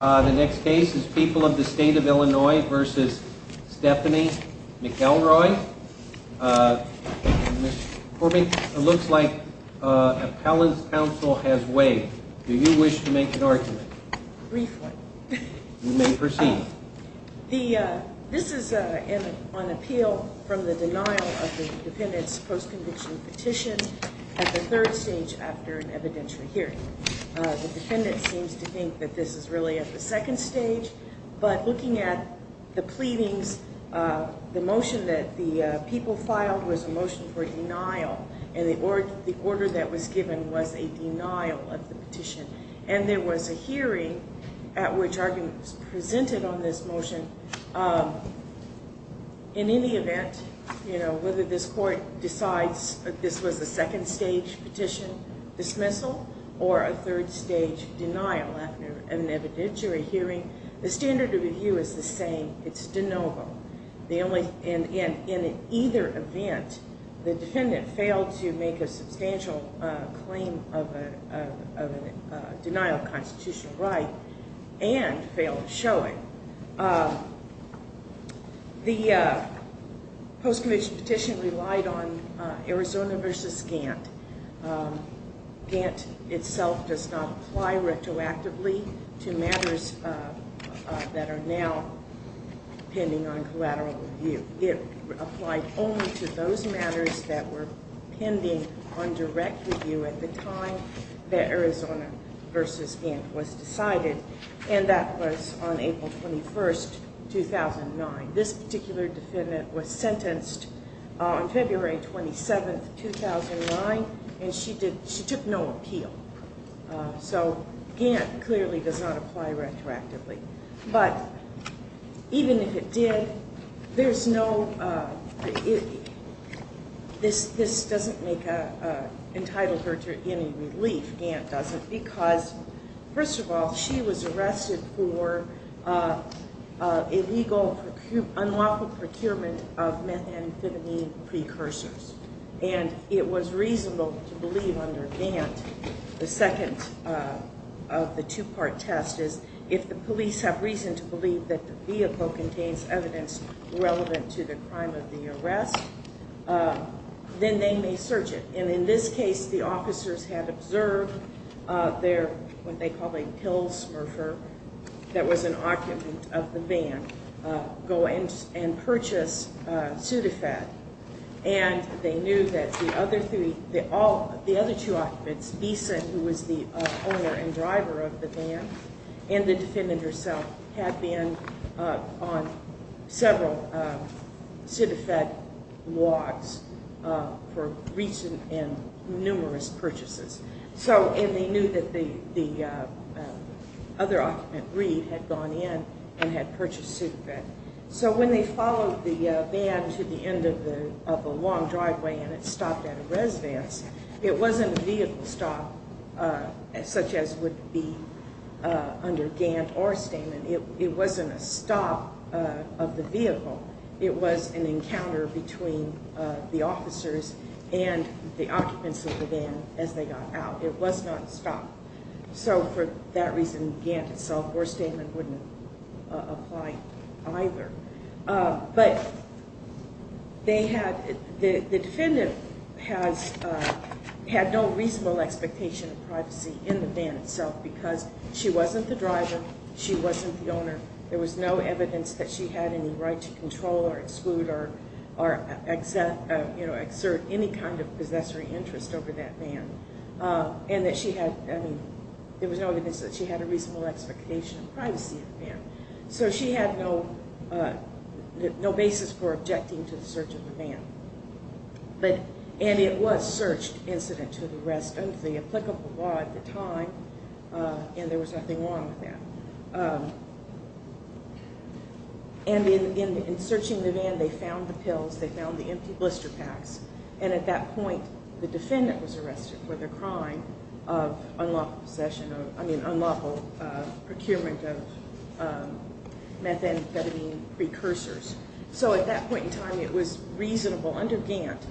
The next case is People of the State of Illinois v. Stephanie McElroy. Ms. Corbyn, it looks like appellant's counsel has waived. Do you wish to make an argument? Briefly. You may proceed. This is on appeal from the denial of the defendant's post-conviction petition at the third stage after an evidentiary hearing. The defendant seems to think that this is really at the second stage, but looking at the pleadings, the motion that the people filed was a motion for denial, and the order that was given was a denial of the petition. And there was a hearing at which arguments were presented on this motion. In any event, whether this court decides that this was a second stage petition dismissal or a third stage denial after an evidentiary hearing, the standard of review is the same. It's de novo. In either event, the defendant failed to make a substantial claim of a denial of constitutional right and failed to show it. The post-conviction petition relied on Arizona v. Gant. Gant itself does not apply retroactively to matters that are now pending on collateral review. It applied only to those matters that were pending on direct review at the time that Arizona v. Gant was decided, and that was on April 21, 2009. This particular defendant was sentenced on February 27, 2009, and she took no appeal. So Gant clearly does not apply retroactively. But even if it did, this doesn't entitle her to any relief, Gant doesn't, because, first of all, she was arrested for illegal unlawful procurement of methamphetamine precursors. And it was reasonable to believe under Gant, the second of the two-part test is, if the police have reason to believe that the vehicle contains evidence relevant to the crime of the arrest, then they may search it. And in this case, the officers had observed their, what they called a pill smurfer, that was an occupant of the van go and purchase Sudafed. And they knew that the other two occupants, Bisa, who was the owner and driver of the van, and the defendant herself, had been on several Sudafed walks for recent and numerous purchases. And they knew that the other occupant, Reed, had gone in and had purchased Sudafed. So when they followed the van to the end of the long driveway and it stopped at a residence, it wasn't a vehicle stop such as would be under Gant or Stamen. It wasn't a stop of the vehicle. It was an encounter between the officers and the occupants of the van as they got out. It was not a stop. So for that reason, Gant itself or Stamen wouldn't apply either. But they had, the defendant had no reasonable expectation of privacy in the van itself because she wasn't the driver, she wasn't the owner. There was no evidence that she had any right to control or exclude or exert any kind of possessory interest over that van. And that she had, I mean, there was no evidence that she had a reasonable expectation of privacy in the van. So she had no basis for objecting to the search of the van. And it was a search incident to the rest of the applicable law at the time. And there was nothing wrong with that. And in searching the van, they found the pills, they found the empty blister packs. And at that point, the defendant was arrested for the crime of unlawful possession of, I mean, unlawful procurement of methamphetamine precursors. So at that point in time, it was reasonable under Gant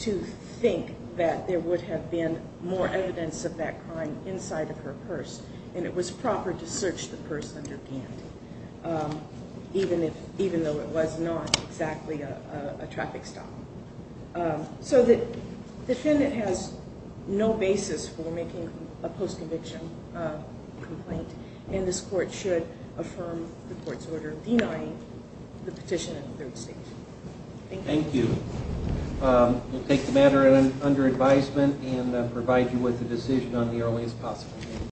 to think that there would have been more evidence of that crime inside of her purse. And it was proper to search the purse under Gant, even though it was not exactly a traffic stop. So the defendant has no basis for making a post-conviction complaint. And this court should affirm the court's order denying the petition in the third stage. Thank you. We'll take the matter under advisement and provide you with a decision on the earliest possible date.